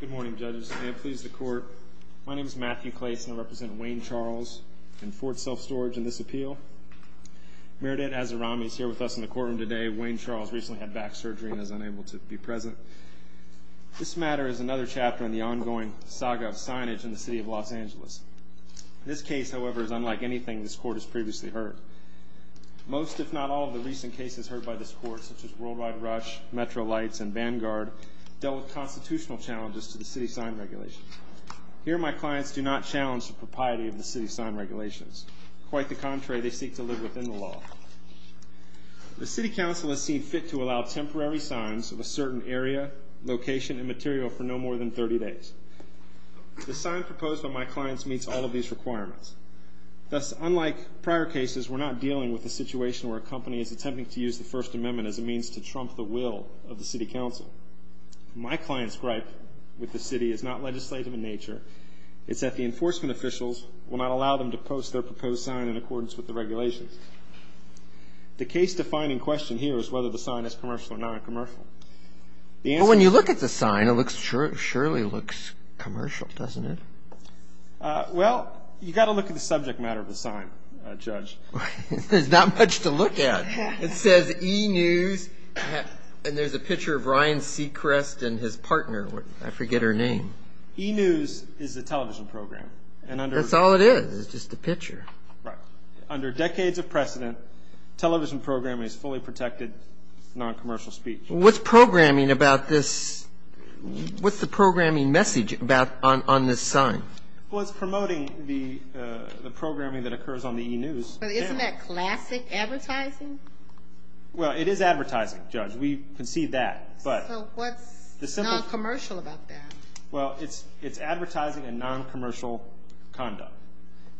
Good morning judges. May it please the court. My name is Matthew Clayson. I represent Wayne Charles and Ford Self Storage in this appeal. Meredith Azarami is here with us in the courtroom today. Wayne Charles recently had back surgery and is unable to be present. This matter is another chapter in the ongoing saga of signage in the City of Los Angeles. This case, however, is unlike anything this court has previously heard. Most, if not all, of the recent cases heard by this court, such as Worldwide Rush, Metro Lights, and Vanguard, dealt with constitutional challenges to the City's sign regulations. Here, my clients do not challenge the propriety of the City's sign regulations. Quite the contrary, they seek to live within the law. The City Council has seen fit to allow temporary signs of a certain area, location, and material for no more than 30 days. The sign proposed by my clients meets all of these requirements. Thus, unlike prior cases, we're not dealing with a situation where a company is attempting to use the First Amendment as a means to trump the will of the City Council. My client's gripe with the City is not legislative in nature. It's that the enforcement officials will not allow them to post their proposed sign in accordance with the regulations. The case-defining question here is whether the sign is commercial or non-commercial. When you look at the sign, it surely looks commercial, doesn't it? Well, you've got to look at the subject matter of the sign, Judge. There's not much to look at. It says E-News, and there's a picture of Ryan Seacrest and his partner. I forget her name. E-News is a television program. That's all it is, is just a picture. Under decades of precedent, television programming is fully protected non-commercial speech. What's programming about this? What's the programming message about on this sign? Well, it's promoting the programming that occurs on the E-News. But isn't that classic advertising? Well, it is advertising, Judge. We can see that. So what's non-commercial about that? Well, it's advertising and non-commercial conduct.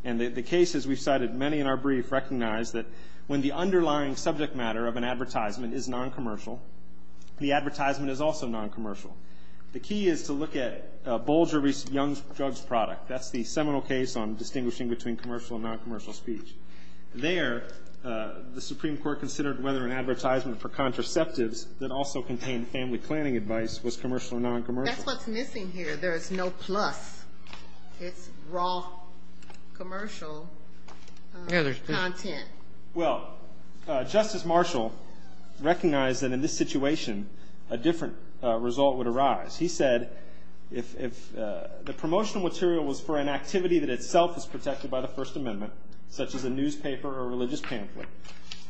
And the cases we've cited, many in our brief, recognize that when the underlying subject matter of an advertisement is non-commercial, the advertisement is also non-commercial. The key is to look at Bolger v. Young's drug product. That's the seminal case on distinguishing between commercial and non-commercial speech. There, the Supreme Court considered whether an advertisement for contraceptives that also contained family planning advice was commercial or non-commercial. That's what's missing here. There is no plus. It's raw commercial content. Well, Justice Marshall recognized that in this situation, a different result would arise. He said if the promotional material was for an activity that itself is protected by the First Amendment, such as a newspaper or a religious pamphlet,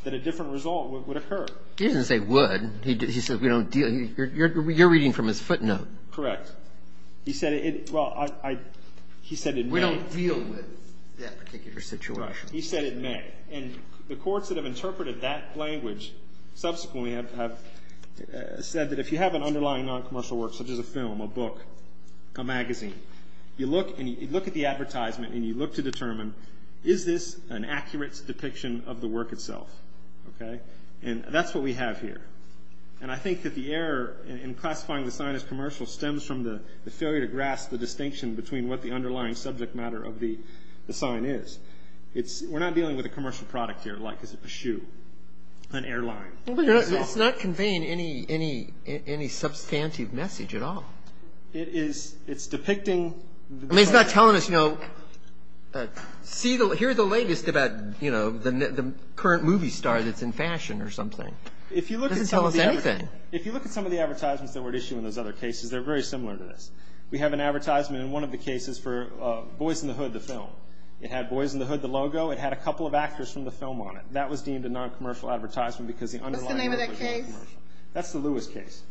that a different result would occur. He didn't say would. He said you're reading from his footnote. Correct. He said it, well, he said it may. We don't deal with that particular situation. Right. He said it may. And the courts that have interpreted that language subsequently have said that if you have an underlying non-commercial work, such as a film, a book, a magazine, you look at the advertisement and you look to determine, is this an accurate depiction of the work itself? Okay? And that's what we have here. And I think that the error in classifying the sign as commercial stems from the failure to grasp the distinction between what the underlying subject matter of the sign is. We're not dealing with a commercial product here, like is it a shoe, an airline. It's not conveying any substantive message at all. It is. It's depicting. I mean, it's not telling us, you know, here are the latest about, you know, the current movie star that's in fashion or something. It doesn't tell us anything. If you look at some of the advertisements that were issued in those other cases, they're very similar to this. We have an advertisement in one of the cases for Boys in the Hood, the film. It had Boys in the Hood, the logo. It had a couple of actors from the film on it. That was deemed a non-commercial advertisement because the underlying work was non-commercial. What's the name of that case? That's the Lewis case.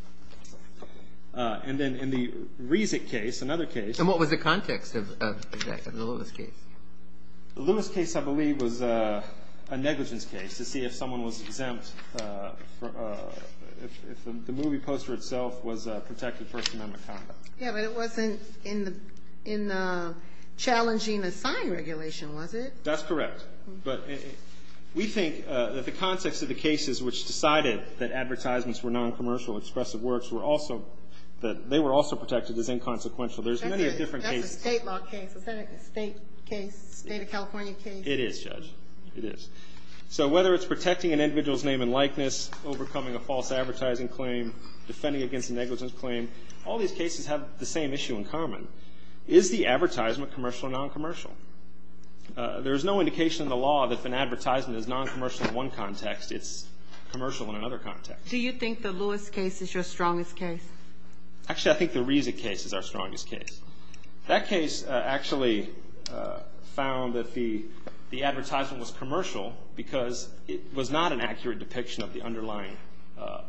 And then in the Reisig case, another case. And what was the context of the Lewis case? The Lewis case, I believe, was a negligence case to see if someone was exempt, if the movie poster itself was protected First Amendment conduct. Yeah, but it wasn't in the challenging the sign regulation, was it? That's correct. But we think that the context of the cases which decided that advertisements were non-commercial expressive works were also that they were also protected as inconsequential. There's many different cases. It's a state law case. Is that a state case, state of California case? It is, Judge. It is. So whether it's protecting an individual's name and likeness, overcoming a false advertising claim, defending against a negligence claim, all these cases have the same issue in common. Is the advertisement commercial or non-commercial? There is no indication in the law that if an advertisement is non-commercial in one context, it's commercial in another context. Do you think the Lewis case is your strongest case? Actually, I think the Reisig case is our strongest case. That case actually found that the advertisement was commercial because it was not an accurate depiction of the underlying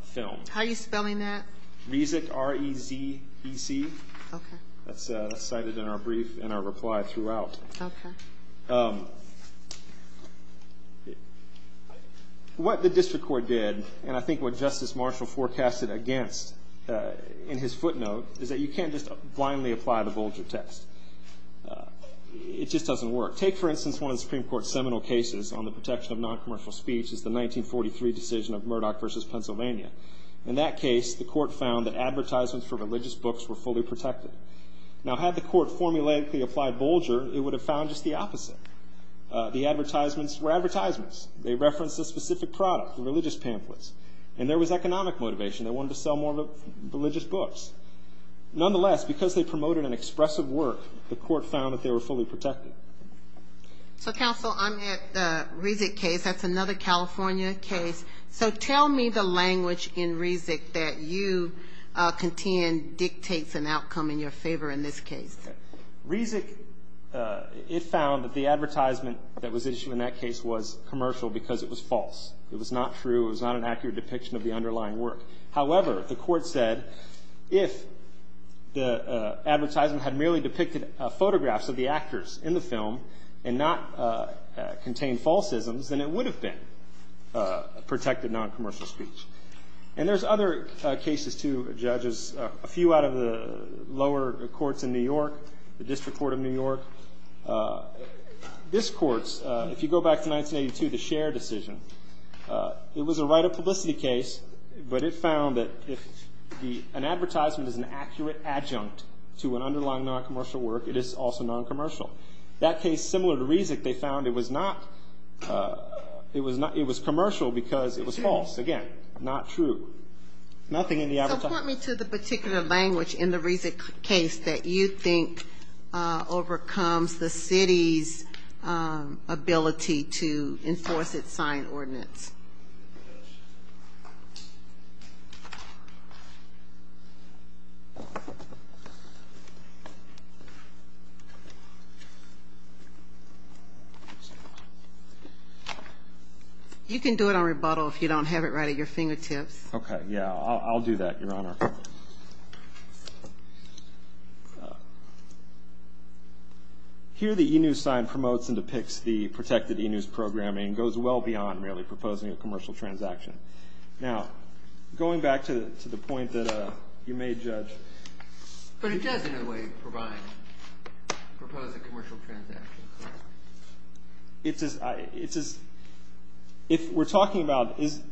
film. How are you spelling that? Reisig, R-E-I-S-I-G. Okay. That's cited in our brief and our reply throughout. Okay. What the district court did, and I think what Justice Marshall forecasted against in his footnote, is that you can't just blindly apply the Bolger test. It just doesn't work. Take, for instance, one of the Supreme Court's seminal cases on the protection of non-commercial speech is the 1943 decision of Murdoch v. Pennsylvania. In that case, the court found that advertisements for religious books were fully protected. Now, had the court formulaically applied Bolger, it would have found just the opposite. The advertisements were advertisements. They referenced a specific product, religious pamphlets, and there was economic motivation. They wanted to sell more religious books. Nonetheless, because they promoted an expressive work, the court found that they were fully protected. So, counsel, I'm at the Reisig case. That's another California case. So tell me the language in Reisig that you contend dictates an outcome in your favor in this case. Reisig, it found that the advertisement that was issued in that case was commercial because it was false. It was not true. It was not an accurate depiction of the underlying work. However, the court said if the advertisement had merely depicted photographs of the actors in the film and not contained falsisms, then it would have been protected non-commercial speech. And there's other cases, too, judges, a few out of the lower courts in New York, the District Court of New York. This court's, if you go back to 1982, the Scher decision, it was a right of publicity case, but it found that if an advertisement is an accurate adjunct to an underlying non-commercial work, it is also non-commercial. That case, similar to Reisig, they found it was not, it was commercial because it was false. Again, not true. Nothing in the advertisement. So point me to the particular language in the Reisig case that you think overcomes the city's ability to enforce its signed ordinance. You can do it on rebuttal if you don't have it right at your fingertips. Okay, yeah, I'll do that, Your Honor. Here, the e-news sign promotes and depicts the protected e-news programming and goes well beyond merely proposing a commercial transaction. Now, going back to the point that you made, Judge. But it does, in a way, provide, propose a commercial transaction. It's as, it's as, if we're talking about, is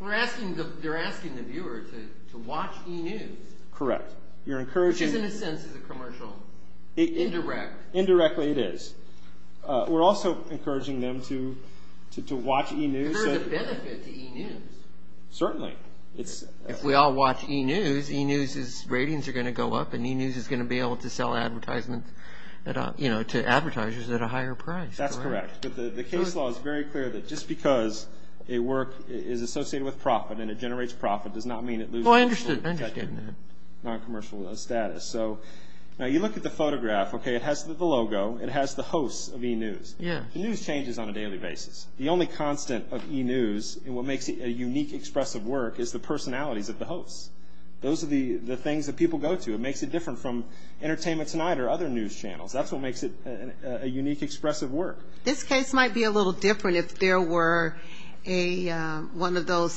We're asking, they're asking the viewer to watch e-news. Correct. Which is, in a sense, a commercial. Indirect. Indirectly, it is. We're also encouraging them to watch e-news. Because there's a benefit to e-news. Certainly. If we all watch e-news, e-news's ratings are going to go up and e-news is going to be able to sell advertisements, you know, to advertisers at a higher price. That's correct. But the case law is very clear that just because a work is associated with profit and it generates profit does not mean it loses. Oh, I understand that. Non-commercial status. So, now you look at the photograph, okay, it has the logo, it has the host of e-news. Yeah. The news changes on a daily basis. The only constant of e-news and what makes it a unique expressive work is the personalities of the hosts. Those are the things that people go to. It makes it different from Entertainment Tonight or other news channels. That's what makes it a unique expressive work. This case might be a little different if there were one of those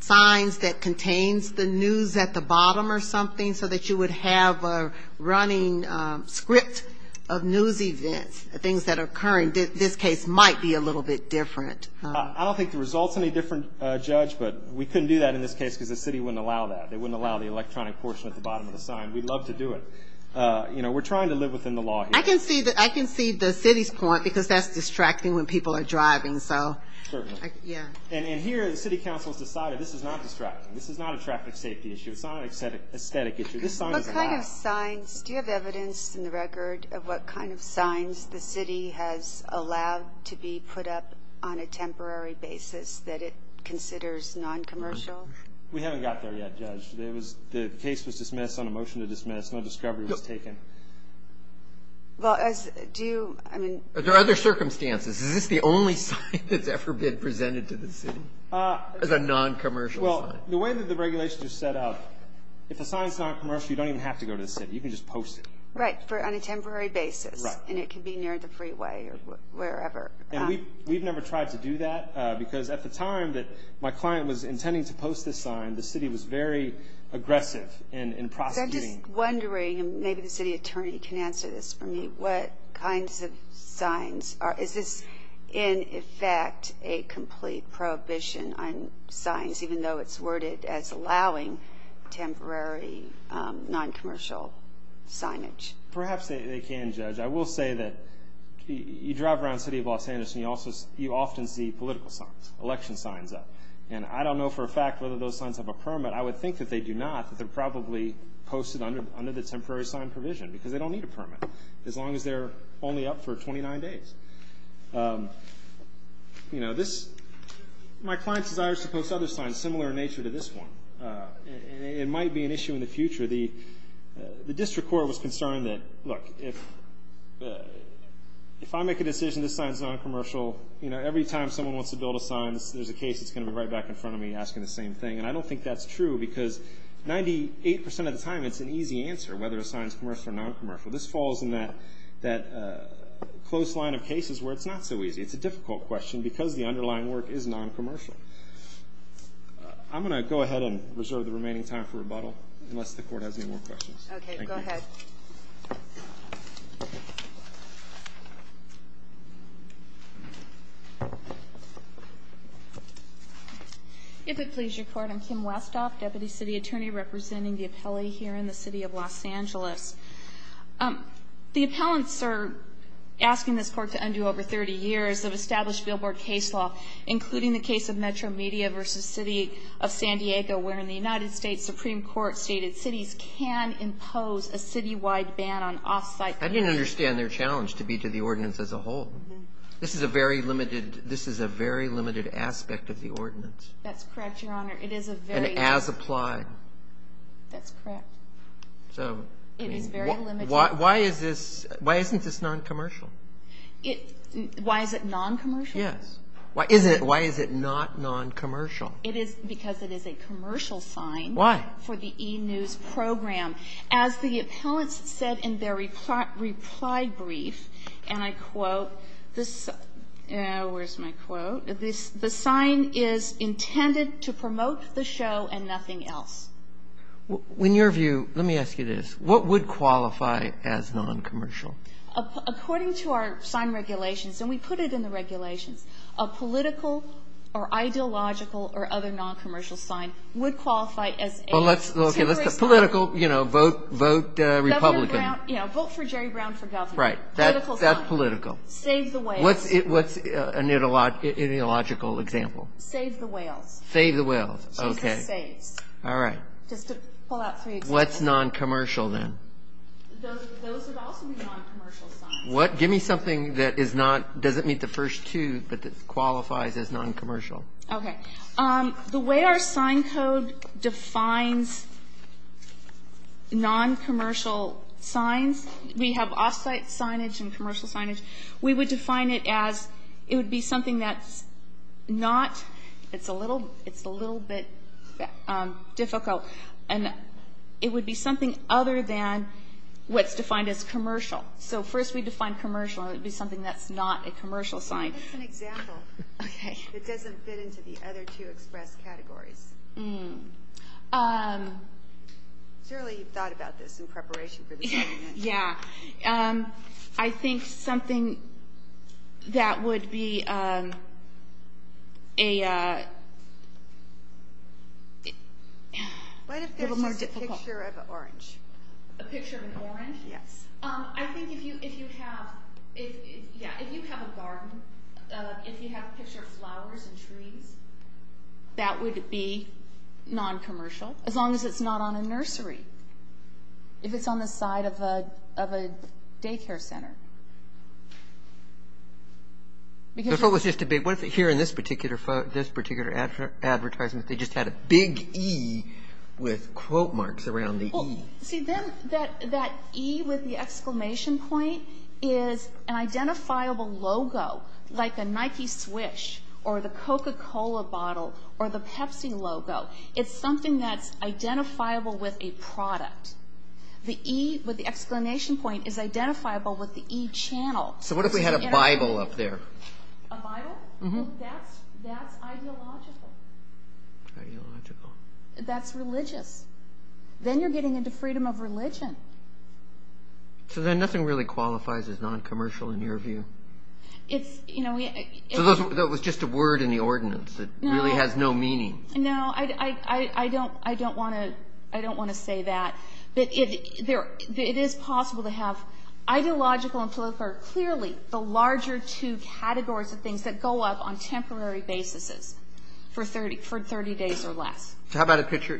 signs that contains the news at the bottom or something, so that you would have a running script of news events, things that are occurring. This case might be a little bit different. I don't think the result's any different, Judge, but we couldn't do that in this case because the city wouldn't allow that. They wouldn't allow the electronic portion at the bottom of the sign. We'd love to do it. You know, we're trying to live within the law here. I can see the city's point because that's distracting when people are driving. Certainly. Yeah. And here the city council has decided this is not distracting. This is not a traffic safety issue. It's not an aesthetic issue. This sign is allowed. What kind of signs? Do you have evidence in the record of what kind of signs the city has allowed to be put up on a temporary basis that it considers noncommercial? We haven't got there yet, Judge. The case was dismissed on a motion to dismiss. No discovery was taken. Well, do you – I mean – Are there other circumstances? Is this the only sign that's ever been presented to the city as a noncommercial sign? Well, the way that the regulations are set up, if a sign's noncommercial, you don't even have to go to the city. You can just post it. Right, on a temporary basis. Right. And it can be near the freeway or wherever. And we've never tried to do that because at the time that my client was intending to post this sign, the city was very aggressive in prosecuting. I'm just wondering, and maybe the city attorney can answer this for me, what kinds of signs are – is this in effect a complete prohibition on signs, even though it's worded as allowing temporary noncommercial signage? Perhaps they can, Judge. I will say that you drive around the city of Los Angeles and you often see political signs, election signs up. And I don't know for a fact whether those signs have a permit. But I would think that they do not, that they're probably posted under the temporary sign provision because they don't need a permit, as long as they're only up for 29 days. My client's desire is to post other signs similar in nature to this one. It might be an issue in the future. The district court was concerned that, look, if I make a decision this sign's noncommercial, every time someone wants to build a sign there's a case that's going to be right back in front of me asking the same thing. And I don't think that's true because 98 percent of the time it's an easy answer whether a sign's commercial or noncommercial. This falls in that close line of cases where it's not so easy. It's a difficult question because the underlying work is noncommercial. I'm going to go ahead and reserve the remaining time for rebuttal, unless the court has any more questions. Okay, go ahead. If it please your Court, I'm Kim Westhoff, Deputy City Attorney representing the appellee here in the City of Los Angeles. The appellants are asking this court to undo over 30 years of established billboard case law, including the case of Metro Media v. City of San Diego, where in the United States Supreme Court stated cities can impose a citywide ban on off-site. I didn't understand their challenge to be to the ordinance as a whole. This is a very limited aspect of the ordinance. That's correct, Your Honor. And as applied. That's correct. It is very limited. Why isn't this noncommercial? Why is it noncommercial? Yes. Why is it not noncommercial? It is because it is a commercial sign. Why? For the e-news program. As the appellants said in their reply brief, and I quote, where's my quote, the sign is intended to promote the show and nothing else. In your view, let me ask you this, what would qualify as noncommercial? According to our sign regulations, and we put it in the regulations, a political or ideological or other noncommercial sign would qualify as a temporary sign. Okay. Political, you know, vote Republican. Vote for Jerry Brown for governor. Right. That's political. Save the whales. What's an ideological example? Save the whales. Save the whales. Okay. All right. Just to pull out three examples. What's noncommercial then? Those would also be noncommercial signs. Give me something that is not, doesn't meet the first two, but that qualifies as noncommercial. Okay. The way our sign code defines noncommercial signs, we have off-site signage and commercial signage. We would define it as it would be something that's not, it's a little bit difficult, and it would be something other than what's defined as commercial. So first we define commercial, and it would be something that's not a commercial sign. Give us an example that doesn't fit into the other two express categories. Surely you've thought about this in preparation for this argument. Yeah. I think something that would be a little more difficult. What if that's just a picture of an orange? A picture of an orange? Yes. I think if you have, yeah, if you have a garden, if you have a picture of flowers and trees, that would be noncommercial as long as it's not on a nursery, if it's on the side of a daycare center. What if here in this particular advertisement they just had a big E with quote marks around the E? See, then that E with the exclamation point is an identifiable logo, like a Nike Swish or the Coca-Cola bottle or the Pepsi logo. It's something that's identifiable with a product. The E with the exclamation point is identifiable with the E channel. So what if we had a Bible up there? A Bible? Mm-hmm. That's ideological. Ideological. That's religious. Then you're getting into freedom of religion. So then nothing really qualifies as noncommercial in your view? So that was just a word in the ordinance. It really has no meaning. No, I don't want to say that. But it is possible to have ideological and philosophical, clearly the larger two categories of things that go up on temporary basis for 30 days or less. How about a picture?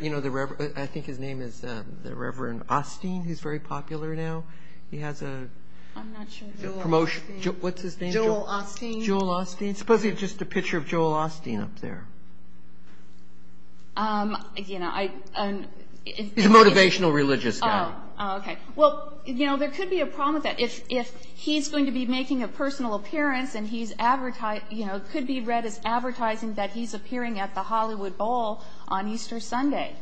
I think his name is the Reverend Osteen, who's very popular now. He has a promotion. I'm not sure. Joel Osteen. What's his name? Joel Osteen. Joel Osteen. Suppose he had just a picture of Joel Osteen up there. He's a motivational religious guy. Oh, okay. Well, you know, there could be a problem with that. If he's going to be making a personal appearance, you know, it could be read as advertising that he's appearing at the Hollywood Bowl on Easter Sunday.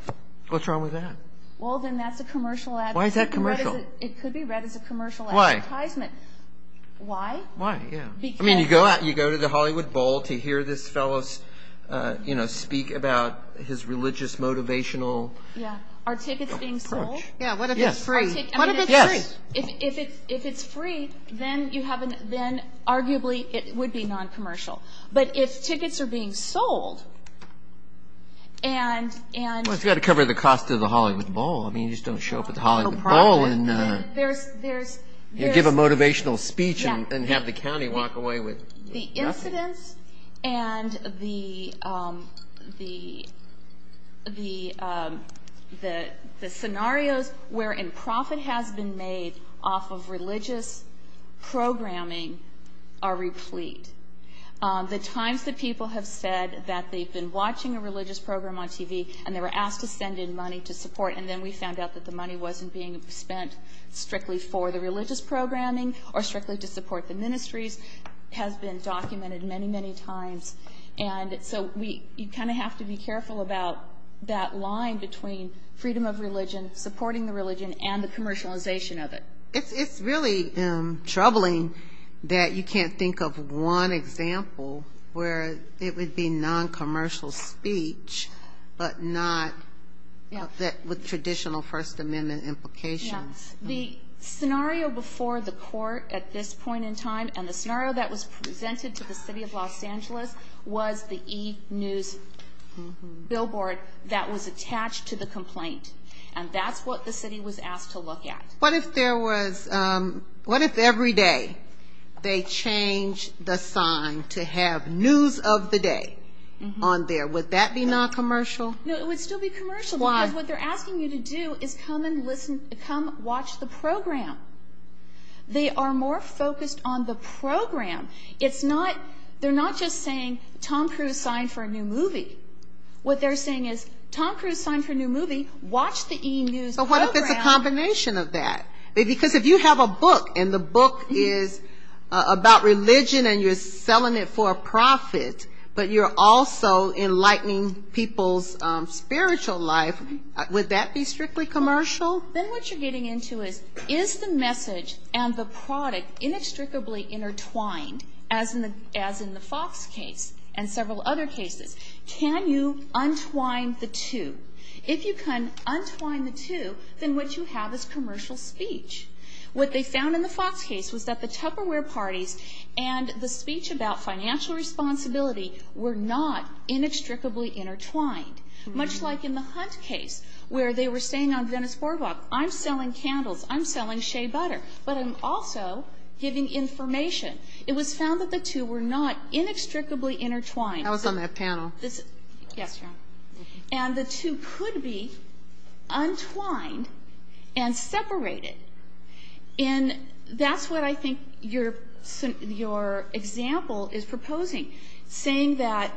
What's wrong with that? Well, then that's a commercial ad. Why is that commercial? It could be read as a commercial advertisement. Why? Why? Why, yeah. I mean, you go to the Hollywood Bowl to hear this fellow speak about his religious motivational approach. Yeah, what if it's free? Yes. If it's free, then arguably it would be non-commercial. But if tickets are being sold and ‑‑ Well, it's got to cover the cost of the Hollywood Bowl. I mean, you just don't show up at the Hollywood Bowl and give a motivational speech and have the county walk away with nothing. The incidents and the scenarios wherein profit has been made off of religious programming are replete. The times that people have said that they've been watching a religious program on TV and they were asked to send in money to support and then we found out that the money wasn't being spent strictly for the religious programming or strictly to support the ministries has been documented many, many times. And so you kind of have to be careful about that line between freedom of religion, supporting the religion, and the commercialization of it. It's really troubling that you can't think of one example where it would be non-commercial speech but not with traditional First Amendment implications. Yeah. The scenario before the court at this point in time and the scenario that was presented to the city of Los Angeles was the e-news billboard that was attached to the complaint. And that's what the city was asked to look at. What if there was ‑‑ what if every day they changed the sign to have news of the day on there? Would that be non-commercial? No, it would still be commercial. Why? Because what they're asking you to do is come and listen, come watch the program. They are more focused on the program. It's not ‑‑ they're not just saying Tom Cruise signed for a new movie. What they're saying is Tom Cruise signed for a new movie, watch the e-news program. But what if it's a combination of that? Because if you have a book and the book is about religion and you're selling it for a profit, but you're also enlightening people's spiritual life, would that be strictly commercial? Then what you're getting into is, is the message and the product inextricably intertwined, as in the Fox case and several other cases? Can you untwine the two? If you can untwine the two, then what you have is commercial speech. What they found in the Fox case was that the Tupperware parties and the speech about financial responsibility were not inextricably intertwined, much like in the Hunt case where they were saying on Dennis Borbach, I'm selling candles, I'm selling shea butter, but I'm also giving information. It was found that the two were not inextricably intertwined. That was on that panel. Yes, ma'am. And the two could be untwined and separated. And that's what I think your example is proposing, saying that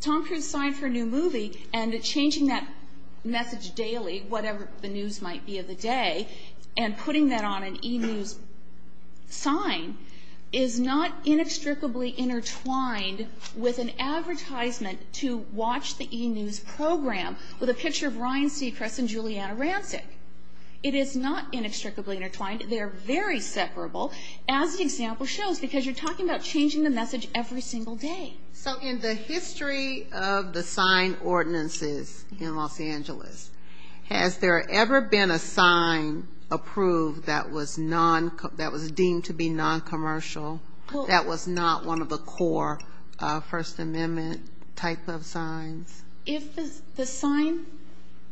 Tom Cruise signed for a new movie and changing that message daily, whatever the news might be of the day, and putting that on an e-news sign is not inextricably intertwined with an advertisement to watch the e-news program with a picture of Ryan Seacrest and Juliana Rancic. It is not inextricably intertwined. They're very separable, as the example shows, because you're talking about changing the message every single day. So in the history of the sign ordinances in Los Angeles, has there ever been a sign approved that was deemed to be noncommercial, that was not one of the core First Amendment type of signs? If the sign,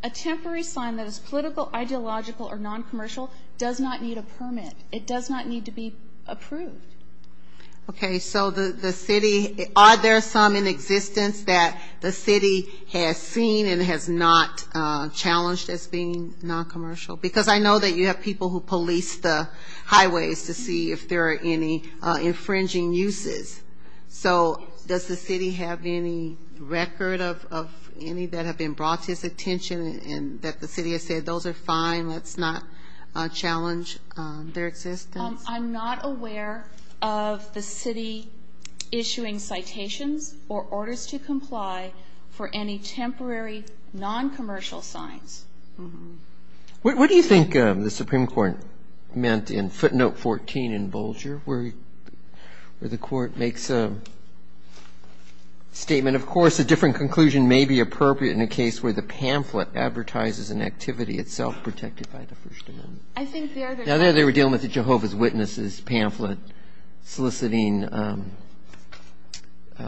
a temporary sign that is political, ideological, or noncommercial does not need a permit, it does not need to be approved. Okay, so the city, are there some in existence that the city has seen and has not challenged as being noncommercial? Because I know that you have people who police the highways to see if there are any infringing uses. So does the city have any record of any that have been brought to its attention and that the city has said, those are fine, let's not challenge their existence? I'm not aware of the city issuing citations or orders to comply for any temporary noncommercial signs. What do you think the Supreme Court meant in footnote 14 in Bolger where the court makes a statement, of course a different conclusion may be appropriate in a case where the pamphlet advertises an activity itself protected by the First Amendment. I think there they were dealing with the Jehovah's Witnesses pamphlet soliciting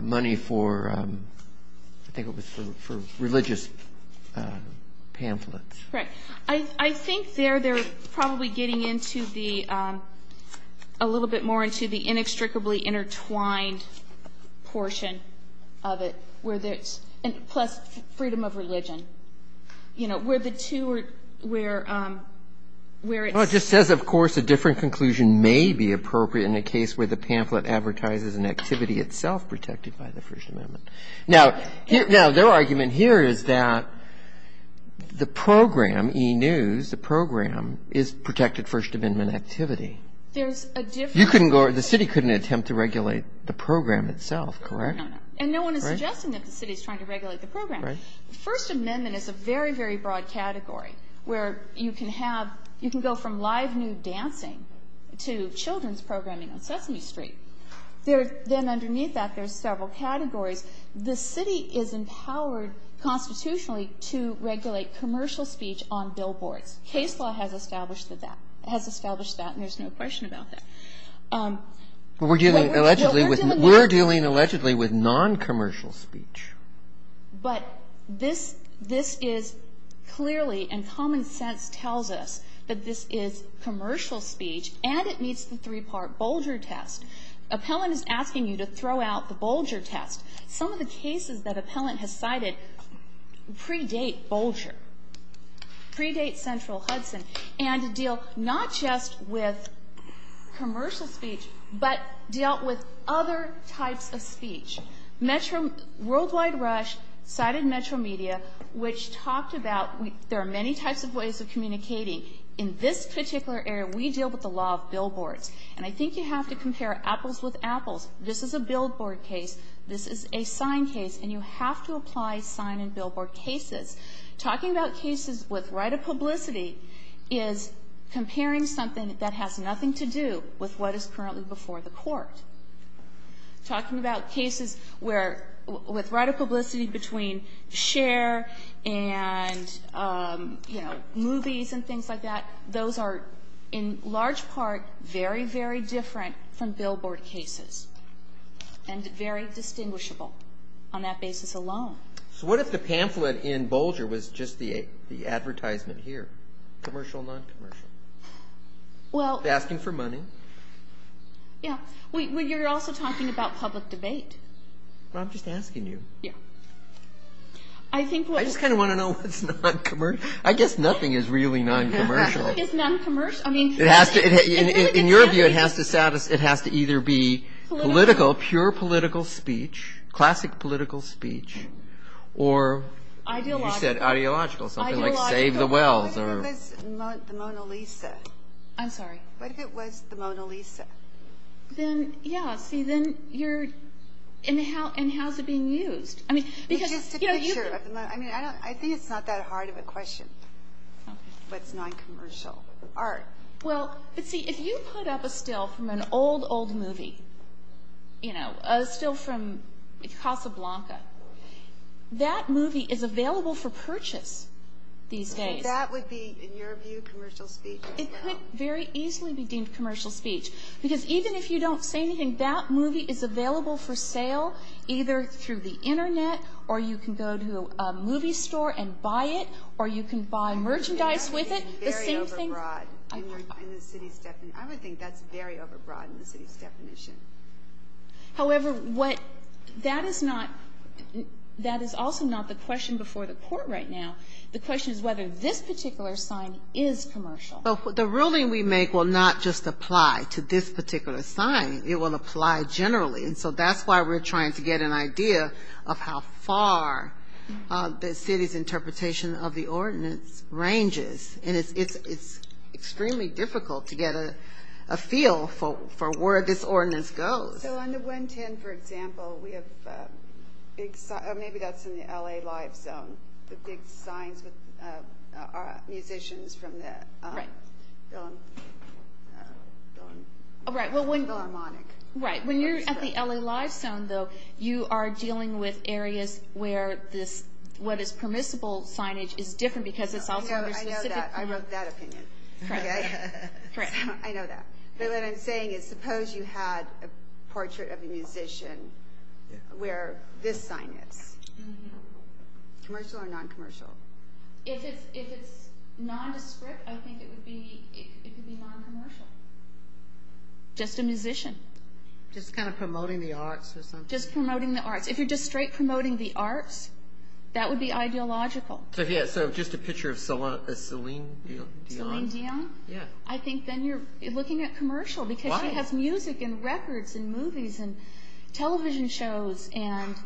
money for, I think it was for religious pamphlets. Correct. I think there they're probably getting into the, a little bit more into the inextricably intertwined portion of it, where there's, plus freedom of religion. You know, where the two are, where it's. Well, it just says, of course, a different conclusion may be appropriate in a case where the pamphlet advertises an activity itself protected by the First Amendment. Now, their argument here is that the program, e-news, the program is protected First Amendment activity. There's a different. You couldn't go, the city couldn't attempt to regulate the program itself, correct? No, no. And no one is suggesting that the city is trying to regulate the program. Right. The First Amendment is a very, very broad category where you can have, you can go from live nude dancing to children's programming on Sesame Street. Then underneath that, there's several categories. The city is empowered constitutionally to regulate commercial speech on billboards. Case law has established that. It has established that, and there's no question about that. We're dealing allegedly with non-commercial speech. But this is clearly, and common sense tells us, that this is commercial speech, and it meets the three-part Bolger test. Appellant is asking you to throw out the Bolger test. Some of the cases that Appellant has cited predate Bolger, predate Central Hudson, and deal not just with commercial speech, but deal with other types of speech. Metro, Worldwide Rush cited Metro Media, which talked about there are many types of ways of communicating. In this particular area, we deal with the law of billboards. And I think you have to compare apples with apples. This is a billboard case. This is a sign case. And you have to apply sign and billboard cases. Talking about cases with right of publicity is comparing something that has nothing to do with what is currently before the Court. Talking about cases where, with right of publicity between Cher and, you know, movies and things like that, those are in large part very, very different from billboard cases, and very distinguishable on that basis alone. So what if the pamphlet in Bolger was just the advertisement here, commercial, non-commercial? Well. Asking for money. Yeah. Well, you're also talking about public debate. Well, I'm just asking you. Yeah. I just kind of want to know what's non-commercial. I guess nothing is really non-commercial. It's non-commercial. I mean. In your view, it has to either be political, pure political speech, classic political speech, or. Ideological. You said ideological. Something like save the wells. What if it was the Mona Lisa? I'm sorry. What if it was the Mona Lisa? Then, yeah. See, then you're. And how's it being used? It's just a picture. I mean, I think it's not that hard of a question. Okay. What's non-commercial? Art. Well, but see, if you put up a still from an old, old movie, you know, a still from Casablanca, that movie is available for purchase these days. So that would be, in your view, commercial speech as well? It could very easily be deemed commercial speech, because even if you don't say internet, or you can go to a movie store and buy it, or you can buy merchandise with it, the same thing. I would think that's very overbroad in the city's definition. However, what. That is not. That is also not the question before the court right now. The question is whether this particular sign is commercial. The ruling we make will not just apply to this particular sign. It will apply generally. And so that's why we're trying to get an idea of how far the city's interpretation of the ordinance ranges. And it's extremely difficult to get a feel for where this ordinance goes. So on the 110, for example, we have big signs. Maybe that's in the L.A. live zone. The big signs with musicians from the Philharmonic. Right. When you're at the L.A. live zone, though, you are dealing with areas where what is permissible signage is different, because it's also. I know that. I wrote that opinion. Correct. I know that. But what I'm saying is, suppose you had a portrait of a musician where this sign is. Commercial or non-commercial? If it's nondescript, I think it would be non-commercial. Just a musician. Just kind of promoting the arts or something? Just promoting the arts. If you're just straight promoting the arts, that would be ideological. So just a picture of Celine Dion. Celine Dion? Yeah. I think then you're looking at commercial, because she has music and records and movies and television shows and CDs and things.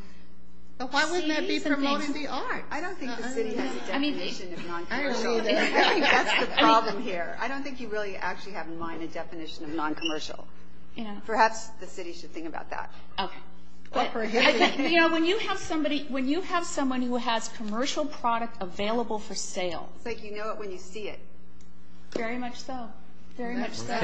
But why wouldn't that be promoting the art? I don't think the city has a definition of non-commercial. I don't think that's the problem here. I don't think you really actually have in mind a definition of non-commercial. Perhaps the city should think about that. Okay. When you have somebody who has commercial product available for sale. It's like you know it when you see it. Very much so. Very much so.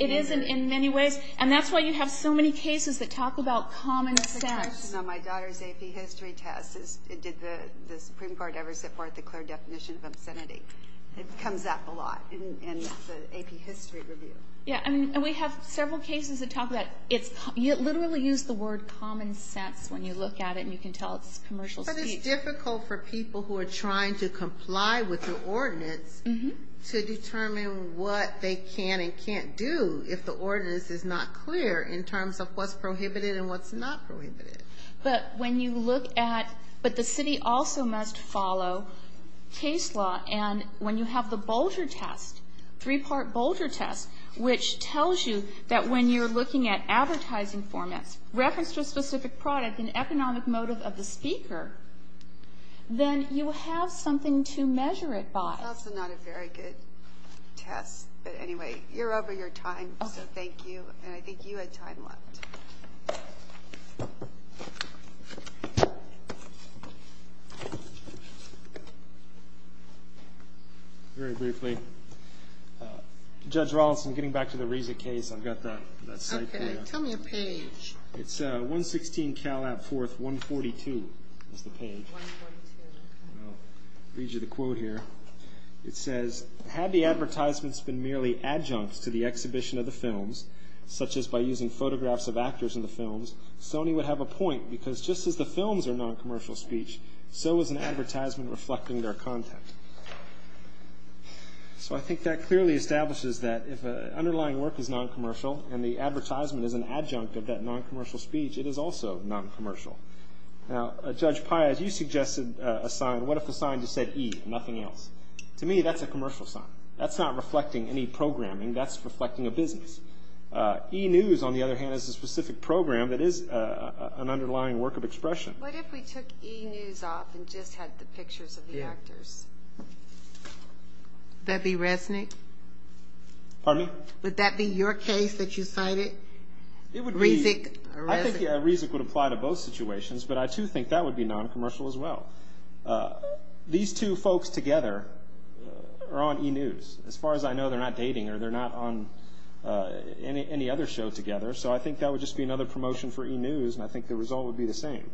It is in many ways. And that's why you have so many cases that talk about common sense. My daughter's AP history test. It did the Supreme Court ever set forth a clear definition of obscenity. It comes up a lot in the AP history review. Yeah. And we have several cases that talk about it. You literally use the word common sense when you look at it and you can tell it's commercial speech. But it's difficult for people who are trying to comply with the ordinance to determine what they can and can't do if the ordinance is not clear in terms of what's prohibited and what's not prohibited. But when you look at but the city also must follow case law and when you have the Bolger test, three-part Bolger test, which tells you that when you're looking at advertising formats, reference to a specific product and economic motive of the speaker, then you have something to measure it by. That's also not a very good test. But anyway, you're over your time. So thank you. And I think you had time left. Very briefly, Judge Rawlinson, getting back to the Reza case, I've got that site there. Okay. Tell me a page. It's 116 Calab 4th, 142 is the page. 142. I'll read you the quote here. It says, had the advertisements been merely adjuncts to the exhibition of the films, such as by using photographs of actors in the films, Sony would have a point because just as the films are noncommercial speech, so is an advertisement reflecting their content. So I think that clearly establishes that if an underlying work is noncommercial and the advertisement is an adjunct of that noncommercial speech, it is also noncommercial. Now, Judge Paez, you suggested a sign. What if the sign just said E, nothing else? To me, that's a commercial sign. That's not reflecting any programming. That's reflecting a business. E News, on the other hand, is a specific program that is an underlying work of expression. What if we took E News off and just had the pictures of the actors? Would that be Resnick? Pardon me? Would that be your case that you cited? It would be. Rezick or Resnick? I think Rezick would apply to both situations, but I, too, think that would be noncommercial as well. These two folks together are on E News. As far as I know, they're not dating or they're not on any other show together, so I think that would just be another promotion for E News, and I think the result would be the same.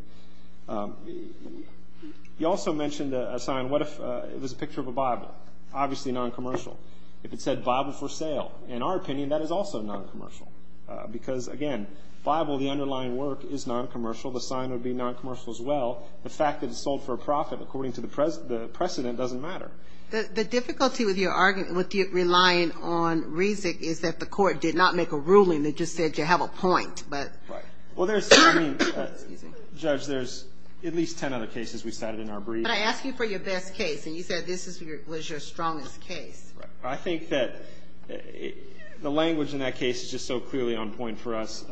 You also mentioned a sign. What if it was a picture of a Bible? Obviously noncommercial. If it said Bible for sale, in our opinion, that is also noncommercial because, again, Bible, the underlying work, is noncommercial. The sign would be noncommercial as well. The fact that it's sold for a profit, according to the precedent, doesn't matter. The difficulty with your argument, with you relying on Rezick, is that the court did not make a ruling that just said you have a point. Well, there's, I mean, Judge, there's at least 10 other cases we cited in our brief. But I asked you for your best case, and you said this was your strongest case. I think that the language in that case is just so clearly on point for us.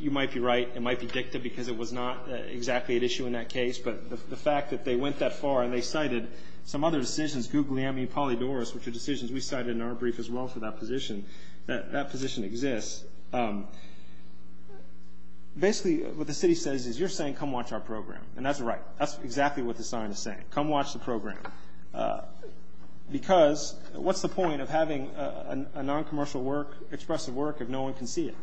You might be right. It might be dicta because it was not exactly at issue in that case. But the fact that they went that far and they cited some other decisions, Guglielmi, Polydorus, which are decisions we cited in our brief as well for that position, that that position exists. Basically what the city says is you're saying come watch our program, and that's right. That's exactly what the sign is saying, come watch the program. Because what's the point of having a noncommercial work, expressive work, if no one can see it?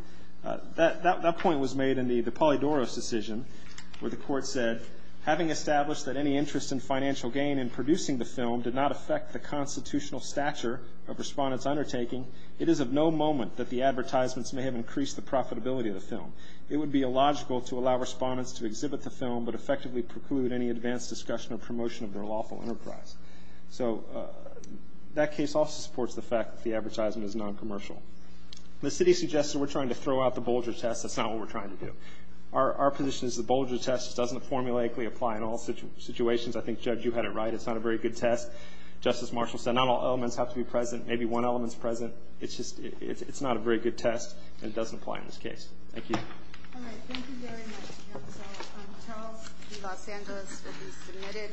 That point was made in the Polydorus decision where the court said, having established that any interest in financial gain in producing the film did not affect the constitutional stature of respondents' undertaking, it is of no moment that the advertisements may have increased the profitability of the film. It would be illogical to allow respondents to exhibit the film but effectively preclude any advanced discussion or promotion of their lawful enterprise. So that case also supports the fact that the advertisement is noncommercial. The city suggested we're trying to throw out the Bolger test. That's not what we're trying to do. Our position is the Bolger test doesn't formulaically apply in all situations. I think, Judge, you had it right. It's not a very good test. Justice Marshall said not all elements have to be present, maybe one element's present. It's not a very good test, and it doesn't apply in this case. Thank you. All right. Thank you very much, counsel. Charles V. Los Angeles will be submitted.